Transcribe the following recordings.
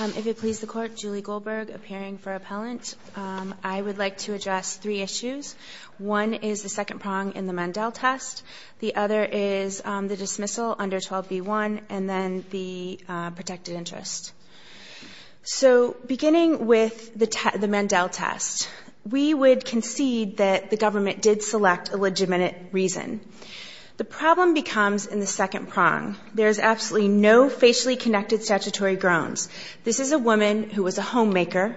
If it please the court, Julie Goldberg, appearing for appellant. I would like to address three issues. One is the second prong in the Mandel test. The other is the dismissal under 12b-1 and then the protected interest. So beginning with the Mandel test, we would concede that the government did select a legitimate reason. The problem becomes in the second prong. There is absolutely no facially connected statutory groans. This is a woman who was a homemaker,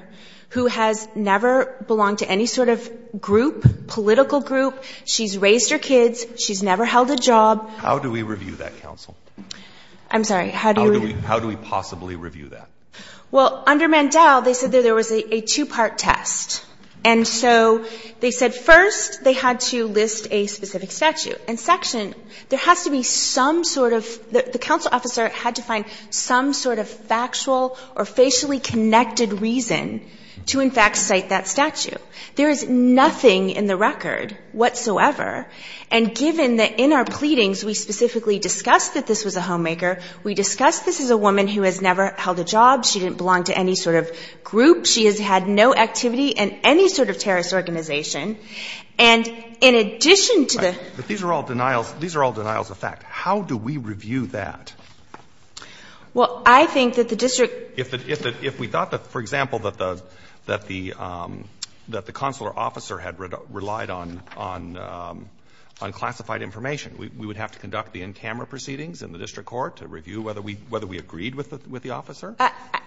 who has never belonged to any sort of group, political group. She's raised her kids. She's never held a job. Breyer. How do we review that, counsel? Goldberg. I'm sorry. How do we? Breyer. How do we possibly review that? Goldberg. Well, under Mandel, they said there was a two-part test. And so they said first they had to list a specific statute. In section, there has to be some sort of the counsel officer had to find some sort of factual or facially connected reason to in fact cite that statute. There is nothing in the record whatsoever. And given that in our pleadings we specifically discussed that this was a homemaker, we discussed this as a woman who has never held a job. She didn't belong to any sort of group. She has had no activity in any sort of terrorist organization. And in addition to the ---- But these are all denials. These are all denials of fact. How do we review that? Well, I think that the district ---- If we thought that, for example, that the consular officer had relied on classified information, we would have to conduct the in-camera proceedings in the district court to review whether we agreed with the officer?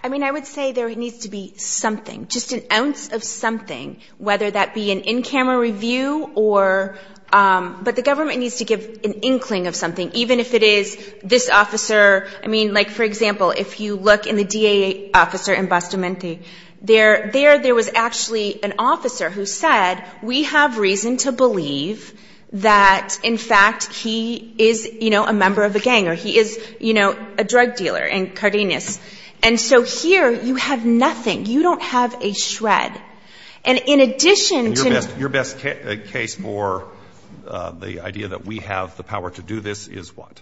I mean, I would say there needs to be something, just an ounce of something, whether that be an in-camera review or ---- But the government needs to give an inkling of something, even if it is this officer ---- I mean, like, for example, if you look in the DA officer in Bustamante, there was actually an officer who said, we have reason to believe that, in fact, he is, you know, a member of a gang or he is, you know, a drug dealer in Cardenas. And so here you have nothing. You don't have a shred. And in addition to ---- And your best case for the idea that we have the power to do this is what?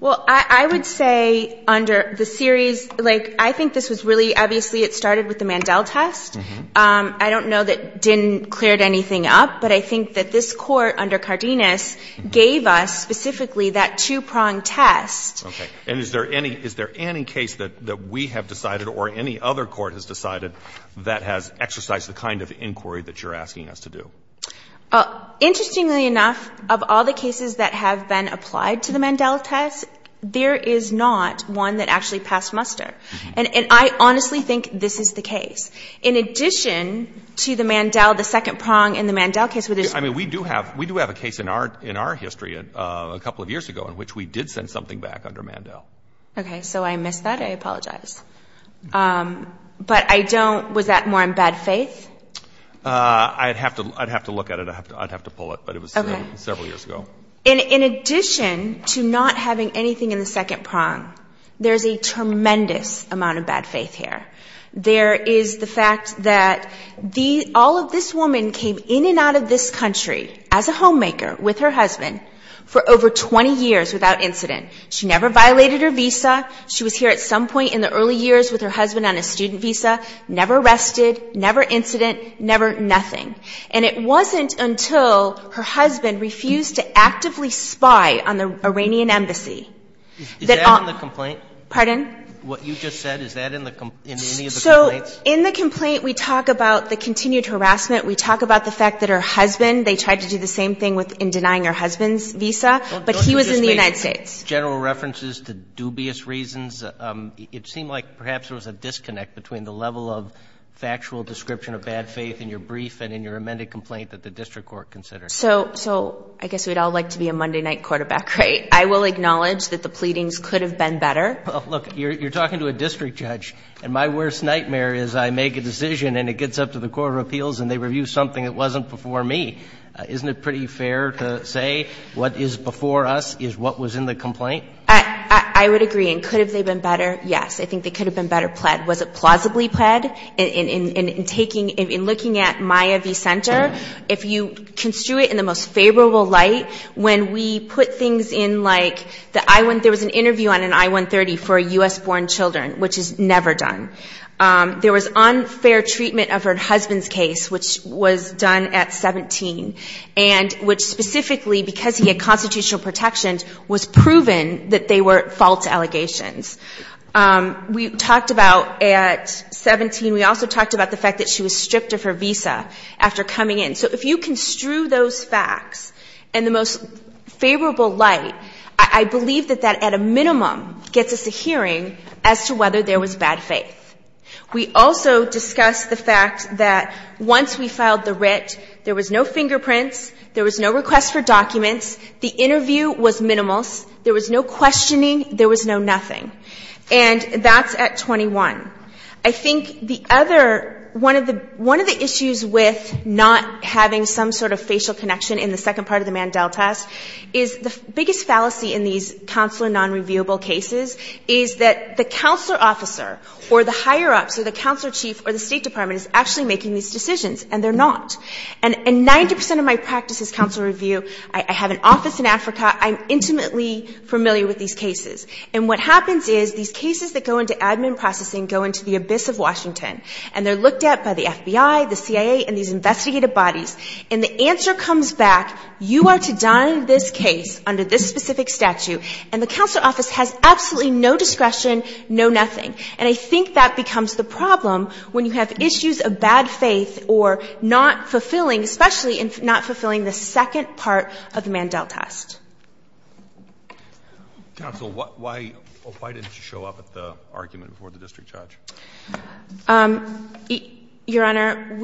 Well, I would say under the series, like, I think this was really, obviously, it started with the Mandel test. I don't know that it didn't clear anything up, but I think that this Court under Cardenas gave us specifically that two-prong test. Okay. And is there any case that we have decided or any other court has decided that has exercised the kind of inquiry that you're asking us to do? Interestingly enough, of all the cases that have been applied to the Mandel test, there is not one that actually passed muster. And I honestly think this is the case. In addition to the Mandel, the second prong in the Mandel case, which is ---- I mean, we do have a case in our history a couple of years ago in which we did send something back under Mandel. Okay. So I missed that. I apologize. But I don't ---- Was that more in bad faith? I'd have to look at it. I'd have to pull it, but it was several years ago. Okay. In addition to not having anything in the second prong, there's a tremendous amount of bad faith here. There is the fact that all of this woman came in and out of this country as a student. She never violated her visa. She was here at some point in the early years with her husband on a student visa, never arrested, never incident, never nothing. And it wasn't until her husband refused to actively spy on the Iranian embassy that all ---- Is that in the complaint? Pardon? What you just said, is that in any of the complaints? So in the complaint, we talk about the continued harassment. We talk about the fact that her husband, they tried to do the same thing in denying her husband's visa, but he was in the United States. General references to dubious reasons, it seemed like perhaps there was a disconnect between the level of factual description of bad faith in your brief and in your amended complaint that the district court considered. So I guess we'd all like to be a Monday night quarterback, right? I will acknowledge that the pleadings could have been better. Look, you're talking to a district judge. And my worst nightmare is I make a decision and it gets up to the court of appeals and they review something that wasn't before me. Isn't it pretty fair to say what is before us is what was in the complaint? I would agree. And could they have been better? Yes. I think they could have been better pled. Was it plausibly pled? In taking, in looking at Maya v. Center, if you construe it in the most favorable light, when we put things in like the I-130, there was an interview on an I-130 for U.S.-born children, which is never done. There was unfair treatment of her husband's case, which was done at 17, and which specifically, because he had constitutional protections, was proven that they were false allegations. We talked about at 17, we also talked about the fact that she was stripped of her visa after coming in. So if you construe those facts in the most favorable light, I believe that that, at a minimum, gets us a hearing as to whether there was bad faith. We also discussed the fact that once we filed the writ, there was no fingerprints, there was no request for documents, the interview was minimals, there was no questioning, there was no nothing. And that's at 21. I think the other, one of the issues with not having some sort of facial connection in the second part of the Mandel test is the biggest fallacy in these counselor nonreviewable cases is that the counselor officer or the higher-ups or the counselor chief or the State Department is actually making these decisions, and they're not. And 90 percent of my practice is counselor review. I have an office in Africa. I'm intimately familiar with these cases. And what happens is these cases that go into admin processing go into the abyss of Washington, and they're looked at by the FBI, the CIA, and these investigative bodies, and the answer comes back, you are to dine this case under this specific statute. And the counselor office has absolutely no discretion, no nothing. And I think that becomes the problem when you have issues of bad faith or not fulfilling, especially not fulfilling the second part of the Mandel test. Counsel, why didn't you show up at the argument before the district judge? Your Honor,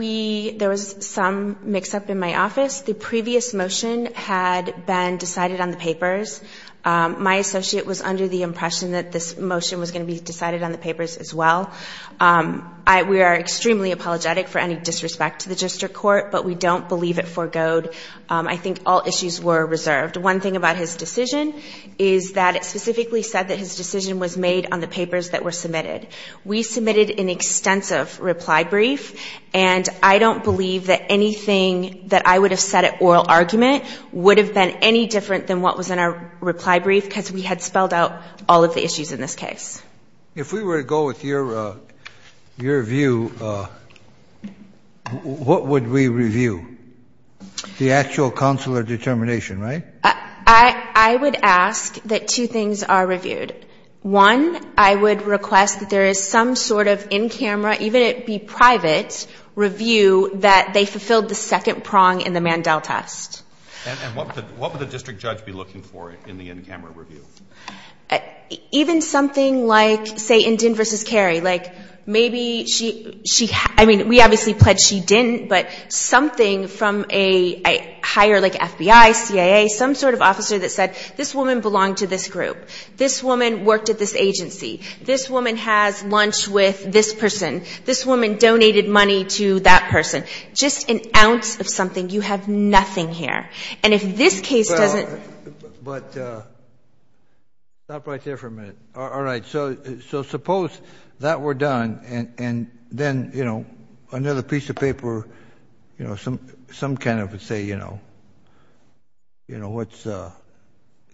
there was some mix-up in my office. The previous motion had been decided on the papers. My associate was under the impression that this motion was going to be decided on the papers as well. We are extremely apologetic for any disrespect to the district court, but we don't believe it foregoed. I think all issues were reserved. One thing about his decision is that it specifically said that his decision was made on the papers that were submitted. We submitted an extensive reply brief, and I don't believe that anything that I would have said at oral argument would have been any different than what was in our reply brief because we had spelled out all of the issues in this case. If we were to go with your view, what would we review? The actual counselor determination, right? I would ask that two things are reviewed. One, I would request that there is some sort of in-camera, even it be private, review that they fulfilled the second prong in the Mandel test. And what would the district judge be looking for in the in-camera review? Even something like, say, Indyne v. Carey. Like, maybe she, I mean, we obviously pledged she didn't, but something from a higher like FBI, CIA, some sort of officer that said, this woman belonged to this group. This woman worked at this agency. This woman has lunch with this person. This woman donated money to that person. Just an ounce of something, you have nothing here. And if this case doesn't But stop right there for a minute. All right. So suppose that were done, and then, you know, another piece of paper, you know, some kind of would say, you know, you know, what's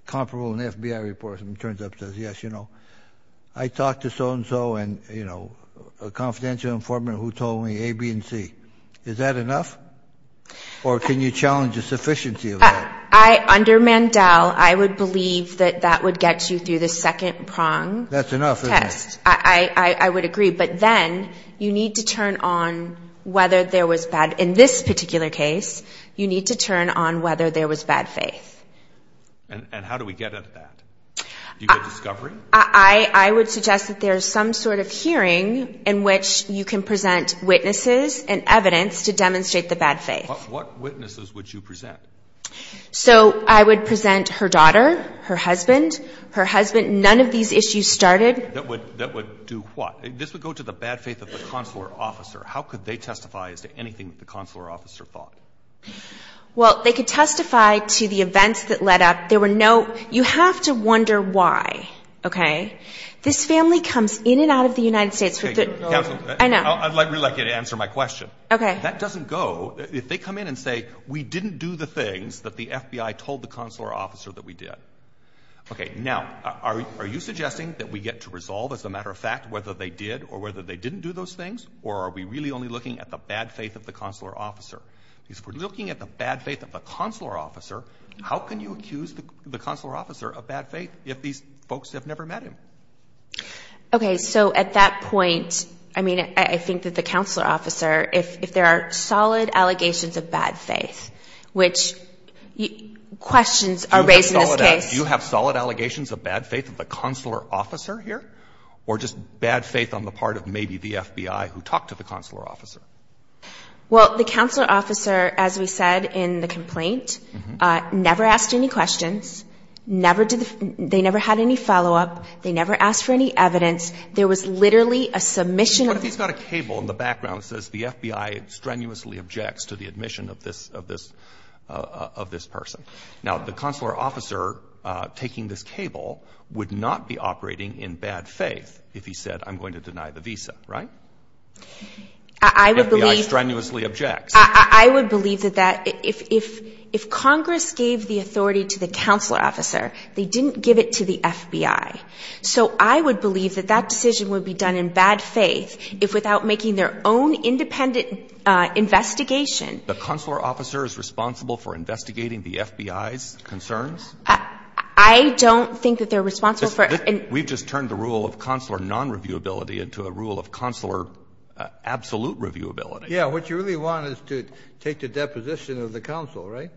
comparable in FBI reports, and it turns out it says, yes, you know, I talked to so-and-so and, you know, a confidential informant who told me A, B, and C. Is that enough? Or can you challenge the sufficiency of that? Under Mandel, I would believe that that would get you through the second prong test. That's enough, isn't it? I would agree. But then, you need to turn on whether there was bad. In this particular case, you need to turn on whether there was bad faith. And how do we get at that? Do you get discovery? I would suggest that there is some sort of hearing in which you can present witnesses and evidence to demonstrate the bad faith. What witnesses would you present? So I would present her daughter, her husband. Her husband, none of these issues started. That would do what? This would go to the bad faith of the consular officer. How could they testify as to anything that the consular officer thought? Well, they could testify to the events that led up. There were no – you have to wonder why, okay? This family comes in and out of the United States. Counselor. I know. I'd really like you to answer my question. Okay. That doesn't go – if they come in and say, we didn't do the things that the FBI told the consular officer that we did. Okay. Now, are you suggesting that we get to resolve, as a matter of fact, whether they did or whether they didn't do those things? Or are we really only looking at the bad faith of the consular officer? Because if we're looking at the bad faith of the consular officer, how can you accuse the consular officer of bad faith if these folks have never met him? Okay. So at that point, I mean, I think that the consular officer, if there are solid allegations of bad faith, which questions are raised in this case. Do you have solid allegations of bad faith of the consular officer here, or just bad faith on the part of maybe the FBI who talked to the consular officer? Well, the consular officer, as we said in the complaint, never asked any questions, never did the – they never had any follow-up, they never asked for any evidence. There was literally a submission of the – But he's got a cable in the background that says the FBI strenuously objects to the admission of this – of this – of this person. Now, the consular officer taking this cable would not be operating in bad faith if he said, I'm going to deny the visa, right? I would believe – The FBI strenuously objects. I would believe that that – if Congress gave the authority to the consular officer, they didn't give it to the FBI. So I would believe that that decision would be done in bad faith if, without making their own independent investigation – The consular officer is responsible for investigating the FBI's concerns? I don't think that they're responsible for – We've just turned the rule of consular non-reviewability into a rule of consular absolute reviewability. Yeah, what you really want is to take the deposition of the consul, right?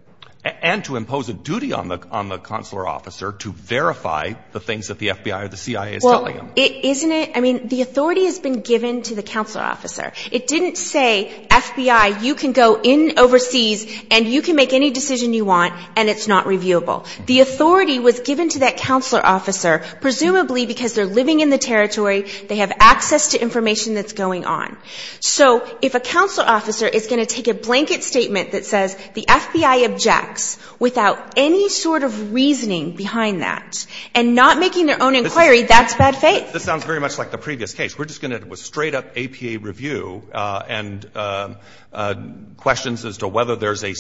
And to impose a duty on the – on the consular officer to verify the things that the FBI or the CIA is telling them. Well, isn't it – I mean, the authority has been given to the consular officer. It didn't say, FBI, you can go in overseas and you can make any decision you want and it's not reviewable. The authority was given to that consular officer, presumably because they're living in the territory, they have access to information that's going on. So if a consular officer is going to take a blanket statement that says, the FBI objects without any sort of reasoning behind that and not making their own inquiry, that's bad faith. This sounds very much like the previous case. We're just going to have a straight-up APA review and questions as to whether there's a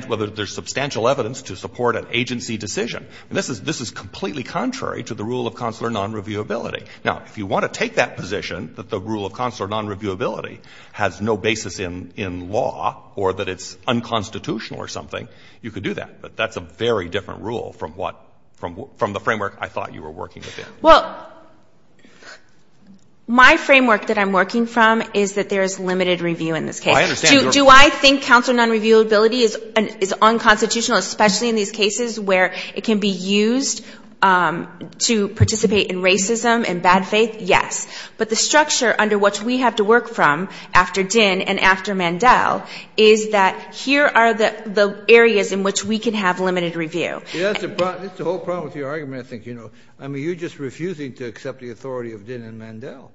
– whether there's substantial evidence to support an agency decision. And this is completely contrary to the rule of consular non-reviewability. Now, if you want to take that position, that the rule of consular non-reviewability has no basis in law or that it's unconstitutional or something, you could do that. But that's a very different rule from what – from the framework I thought you were working within. Well, my framework that I'm working from is that there is limited review in this case. I understand. Do I think consular non-reviewability is unconstitutional, especially in these cases where it can be used to participate in racism and bad faith? Yes. But the structure under which we have to work from after Dinn and after Mandel is that here are the areas in which we can have limited review. That's the whole problem with your argument, I think. You know, I mean, you're just refusing to accept the authority of Dinn and Mandel.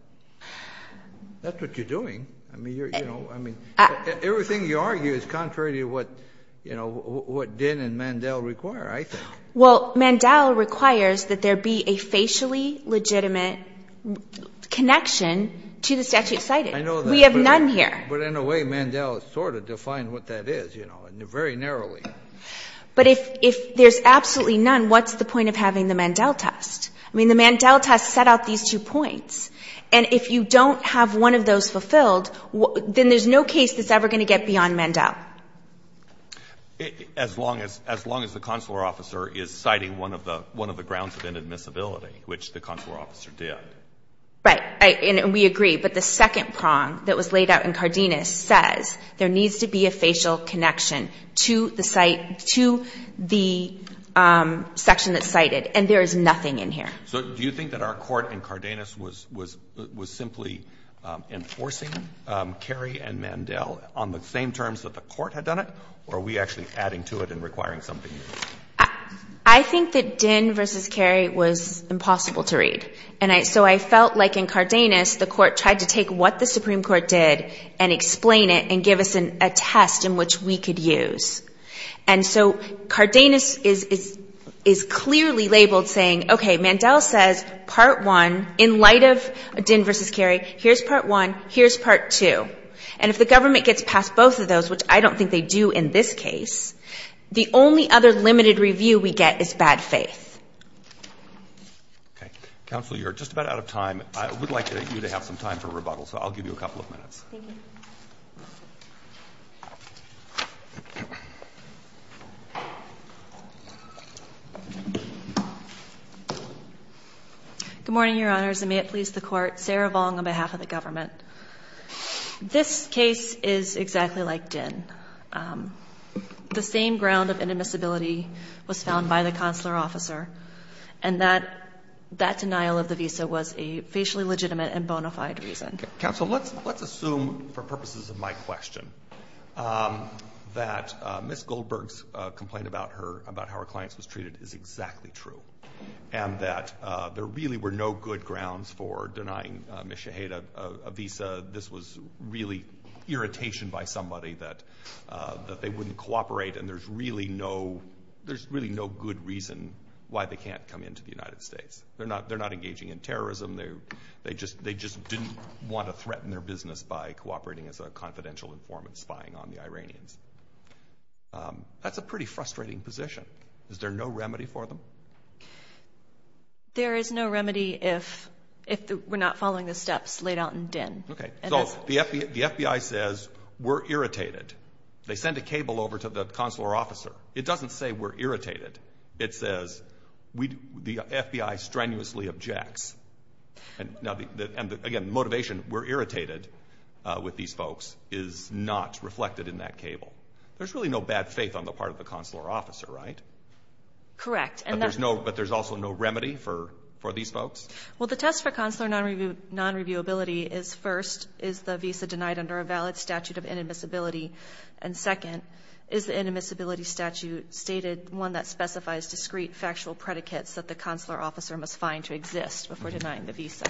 That's what you're doing. I mean, you're, you know, I mean, everything you argue is contrary to what, you know, what Dinn and Mandel require, I think. Well, Mandel requires that there be a facially legitimate connection to the statute cited. I know that. We have none here. But in a way, Mandel sort of defined what that is, you know, very narrowly. But if there's absolutely none, what's the point of having the Mandel test? I mean, the Mandel test set out these two points. And if you don't have one of those fulfilled, then there's no case that's ever going to get beyond Mandel. As long as the consular officer is citing one of the grounds of inadmissibility, which the consular officer did. Right. And we agree. But the second prong that was laid out in Cardenas says there needs to be a facial connection to the site, to the section that's cited. And there is nothing in here. So do you think that our court in Cardenas was simply enforcing Kerry and Mandel on the same terms that the court had done it? Or are we actually adding to it and requiring something new? I think that Dinn versus Kerry was impossible to read. And so I felt like in Cardenas, the court tried to take what the Supreme Court did and explain it and give us a test in which we could use. And so Cardenas is clearly labeled saying, okay, Mandel says, part one, in light of Dinn versus Kerry, here's part one, here's part two. And if the government gets past both of those, which I don't think they do in this case, the only other limited review we get is bad faith. Okay. Counsel, you're just about out of time. I would like you to have some time for rebuttal. So I'll give you a couple of minutes. Thank you. Good morning, Your Honors, and may it please the Court. Sarah Vong on behalf of the government. This case is exactly like Dinn. The same ground of inadmissibility was found by the consular officer, and that denial of the visa was a facially legitimate and bona fide reason. Counsel, let's assume, for purposes of my question, that Ms. Goldberg's complaint about how her clients was treated is exactly true and that there really were no good grounds for denying Ms. Shaheda a visa. This was really irritation by somebody that they wouldn't cooperate, and there's really no good reason why they can't come into the United States. They're not engaging in terrorism. They just didn't want to threaten their business by cooperating as a confidential informant spying on the Iranians. That's a pretty frustrating position. Is there no remedy for them? There is no remedy if we're not following the steps laid out in Dinn. Okay. So the FBI says we're irritated. They send a cable over to the consular officer. It doesn't say we're irritated. It says the FBI strenuously objects. Again, the motivation, we're irritated with these folks, is not reflected in that cable. There's really no bad faith on the part of the consular officer, right? Correct. But there's also no remedy for these folks? Well, the test for consular non-reviewability is, first, is the visa denied under a valid statute of inadmissibility, and second, is the inadmissibility statute stated one that specifies discrete factual predicates that the consular officer must find to exist before denying the visa.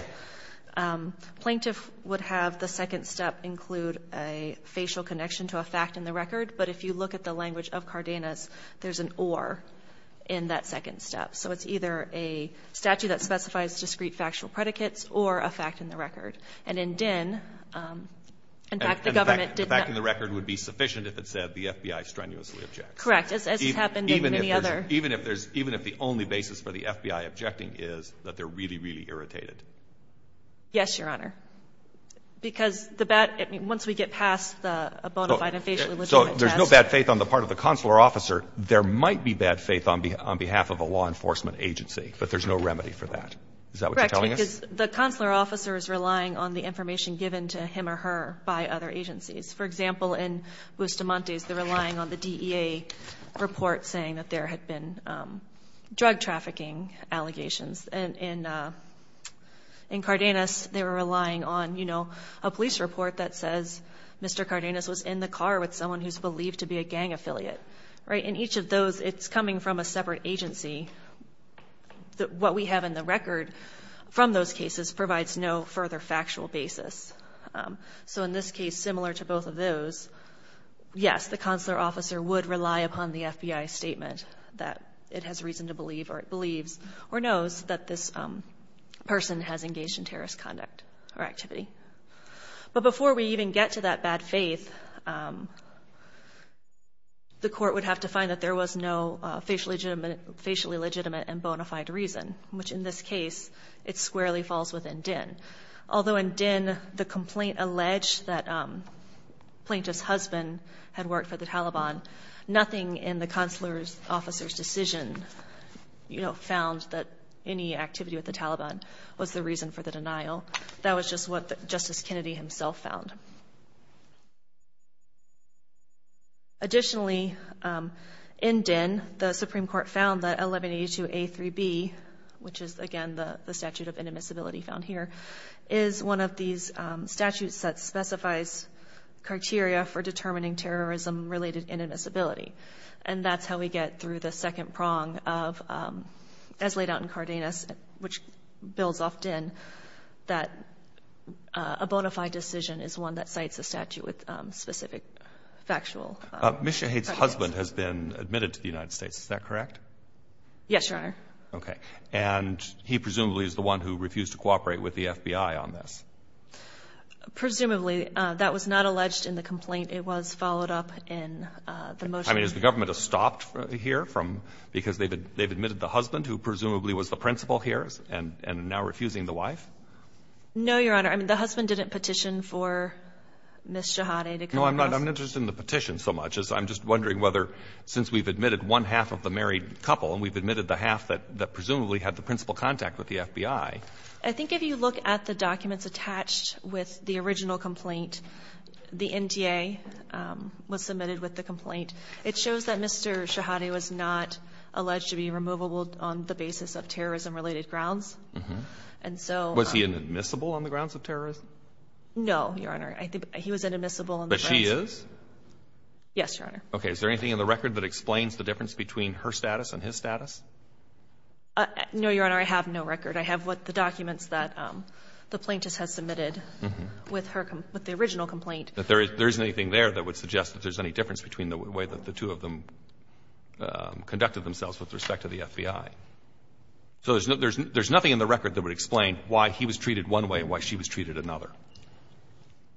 Plaintiff would have the second step include a facial connection to a fact in the record, but if you look at the language of Cardenas, there's an or in that second step. So it's either a statute that specifies discrete factual predicates or a fact in the record. And in DIN, in fact, the government did not. And the fact in the record would be sufficient if it said the FBI strenuously objects. Correct. As has happened in any other. Even if there's, even if the only basis for the FBI objecting is that they're really, really irritated. Yes, Your Honor. Because the bad, once we get past the bona fide and facially legitimate test. So there's no bad faith on the part of the consular officer. There might be bad faith on behalf of a law enforcement agency, but there's no remedy for that. Is that what you're telling us? The consular officer is relying on the information given to him or her by other agencies. For example, in Bustamante's, they're relying on the DEA report saying that there had been drug trafficking allegations. And in Cardenas, they were relying on, you know, a police report that says Mr. Cardenas was in the car with someone who's believed to be a gang affiliate. In each of those, it's coming from a separate agency. What we have in the record from those cases provides no further factual basis. So in this case, similar to both of those, yes, the consular officer would rely upon the FBI statement that it has reason to believe, or it believes or knows that this person has engaged in terrorist conduct or activity. But before we even get to that bad faith, the court would have to find that there was no facially legitimate and bona fide reason, which in this case, it squarely falls within DIN. Although in DIN, the complaint alleged that plaintiff's husband had worked for the Taliban, nothing in the consular officer's decision, you know, found that any activity with the Taliban was the reason for the denial. That was just what Justice Kennedy himself found. Additionally, in DIN, the Supreme Court found that 1182A3B, which is, again, the statute of inadmissibility found here, is one of these statutes that specifies criteria for determining terrorism-related inadmissibility. And that's how we get through the second prong of, as laid out in Cardenas, which builds off DIN, that a bona fide decision is one that cites a statute with specific factual criteria. Ms. Shaheed's husband has been admitted to the United States, is that correct? Yes, Your Honor. Okay. And he presumably is the one who refused to cooperate with the FBI on this. Presumably. That was not alleged in the complaint. It was followed up in the motion. I mean, has the government stopped here from, because they've admitted the husband, who presumably was the principal here, and now refusing the wife? No, Your Honor. I mean, the husband didn't petition for Ms. Shaheed to come across. No, I'm not interested in the petition so much. I'm just wondering whether, since we've admitted one half of the married couple, and we've admitted the half that presumably had the principal contact with the FBI. I think if you look at the documents attached with the original complaint, the NTA was submitted with the complaint. It shows that Mr. Shaheed was not alleged to be removable on the basis of terrorism-related grounds. Was he inadmissible on the grounds of terrorism? No, Your Honor. I think he was inadmissible on the grounds of terrorism. But she is? Yes, Your Honor. Okay. Is there anything in the record that explains the difference between her status and his status? No, Your Honor. I have no record. I have the documents that the plaintiff has submitted with the original complaint. But there isn't anything there that would suggest that there's any difference between the way that the two of them conducted themselves with respect to the FBI. So there's nothing in the record that would explain why he was treated one way and why she was treated another.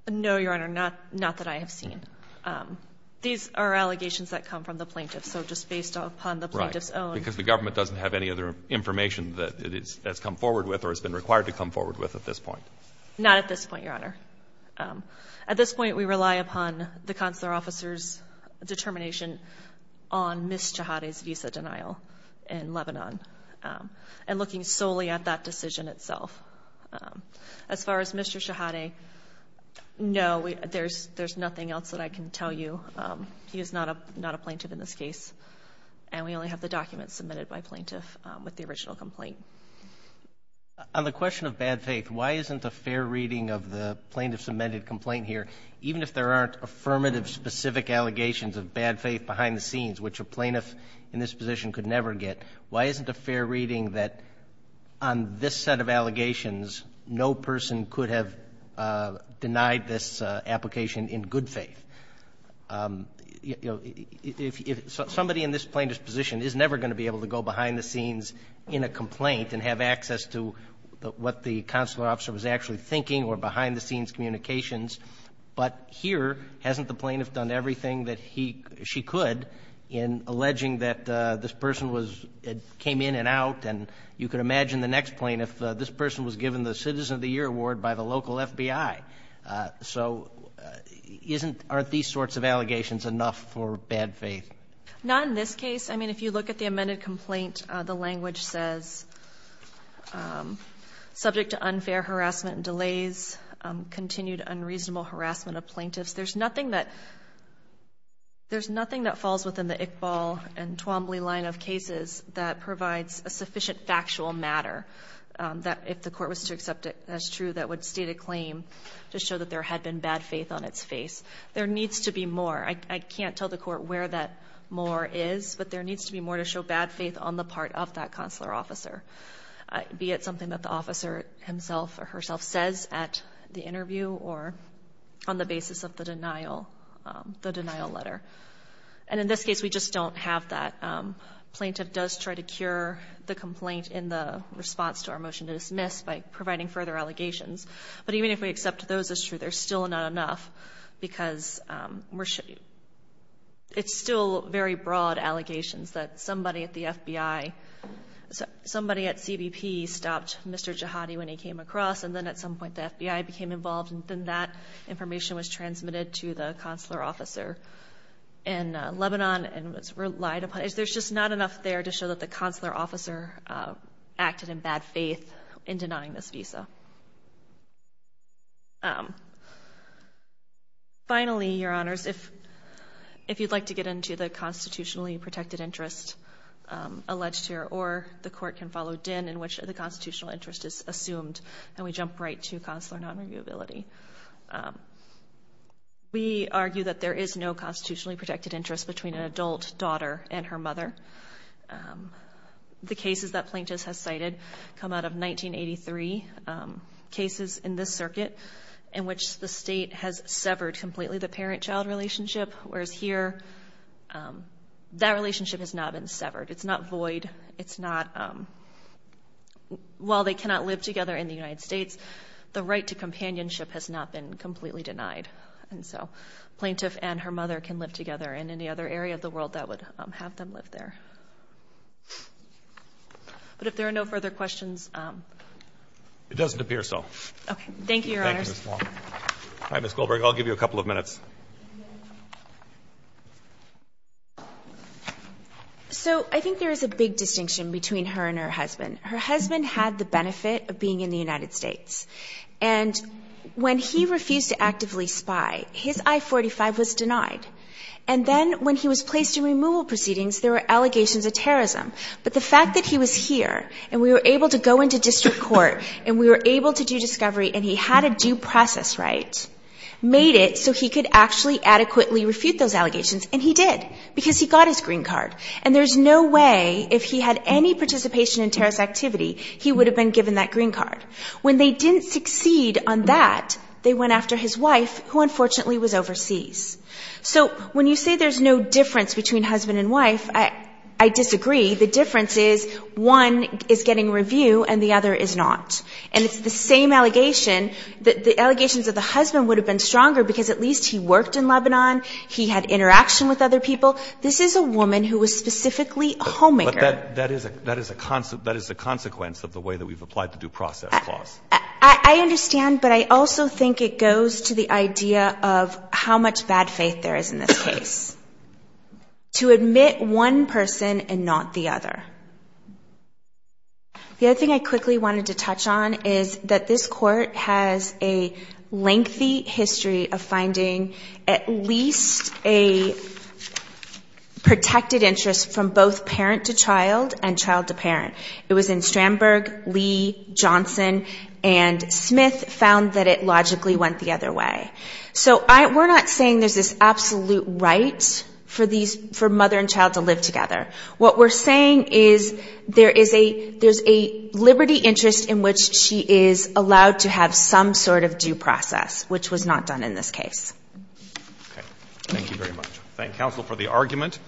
No, Your Honor. Not that I have seen. These are allegations that come from the plaintiff, so just based upon the plaintiff's own. Because the government doesn't have any other information that it has come forward with or has been required to come forward with at this point? Not at this point, Your Honor. At this point, we rely upon the consular officer's determination on Ms. Shaheed's visa denial in Lebanon and looking solely at that decision itself. As far as Mr. Shaheed, no, there's nothing else that I can tell you. He is not a plaintiff in this case, and we only have the documents submitted by plaintiff with the original complaint. On the question of bad faith, why isn't a fair reading of the plaintiff's amended complaint here, even if there aren't affirmative specific allegations of bad faith behind the scenes, which a plaintiff in this position could never get, why isn't a fair reading that on this set of allegations, no person could have denied this if somebody in this plaintiff's position is never going to be able to go behind the scenes in a complaint and have access to what the consular officer was actually thinking or behind the scenes communications. But here, hasn't the plaintiff done everything that she could in alleging that this person came in and out, and you could imagine the next plaintiff, this person was given the Citizen of the Year Award by the local FBI. So aren't these sorts of allegations enough for bad faith? Not in this case. I mean, if you look at the amended complaint, the language says, subject to unfair harassment and delays, continued unreasonable harassment of plaintiffs. There's nothing that falls within the Iqbal and Twombly line of cases that provides a sufficient factual matter that if the court was to accept it as true, that would constitute a claim to show that there had been bad faith on its face. There needs to be more. I can't tell the court where that more is, but there needs to be more to show bad faith on the part of that consular officer, be it something that the officer himself or herself says at the interview or on the basis of the denial letter. And in this case, we just don't have that. Plaintiff does try to cure the complaint in the response to our motion to dismiss by providing further allegations. But even if we accept those as true, there's still not enough because it's still very broad allegations that somebody at the FBI, somebody at CBP stopped Mr. Jihadi when he came across and then at some point the FBI became involved and then that information was transmitted to the consular officer in Lebanon and was relied upon. There's just not enough there to show that the consular officer acted in bad faith in denying this visa. Finally, Your Honors, if you'd like to get into the constitutionally protected interest alleged here or the court can follow Dinh in which the constitutional interest is assumed and we jump right to consular non-reviewability. We argue that there is no constitutionally protected interest between an adult daughter and her mother. The cases that Plaintiff has cited come out of 1983 cases in this circuit in which the state has severed completely the parent-child relationship whereas here that relationship has not been severed. It's not void. It's not while they cannot live together in the United States, the right to companionship has not been completely denied. And so Plaintiff and her mother can live together in any other area of the world that would have them live there. But if there are no further questions. It doesn't appear so. Okay. Thank you, Your Honors. Thank you, Ms. Long. All right, Ms. Goldberg, I'll give you a couple of minutes. So I think there is a big distinction between her and her husband. Her husband had the benefit of being in the United States. And when he refused to actively spy, his I-45 was denied. And then when he was placed in removal proceedings, there were allegations of terrorism. But the fact that he was here and we were able to go into district court and we were able to do discovery and he had a due process right, made it so he could actually adequately refute those allegations, and he did, because he got his green card. And there's no way if he had any participation in terrorist activity, he would have been given that green card. When they didn't succeed on that, they went after his wife, who unfortunately was overseas. So when you say there's no difference between husband and wife, I disagree. The difference is one is getting review and the other is not. And it's the same allegation that the allegations of the husband would have been stronger because at least he worked in Lebanon, he had interaction with other people. This is a woman who was specifically a homemaker. But that is a consequence of the way that we've applied the due process clause. I understand, but I also think it goes to the idea of how much bad faith there is in this case. To admit one person and not the other. The other thing I quickly wanted to touch on is that this court has a lengthy history of finding at least a protected interest from both parent to child and child to parent. It was in Strandberg, Lee, Johnson, and Smith found that it logically went the other way. So we're not saying there's this absolute right for these — for mother and child to live together. What we're saying is there is a — there's a liberty interest in which she is allowed to have some sort of due process, which was not done in this case. Okay. Thank you very much. I thank counsel for the argument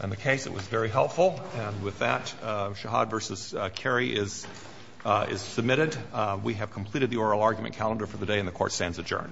on the case. It was very helpful. And with that, Shahad v. Carey is submitted. We have completed the oral argument calendar for the day, and the Court stands adjourned.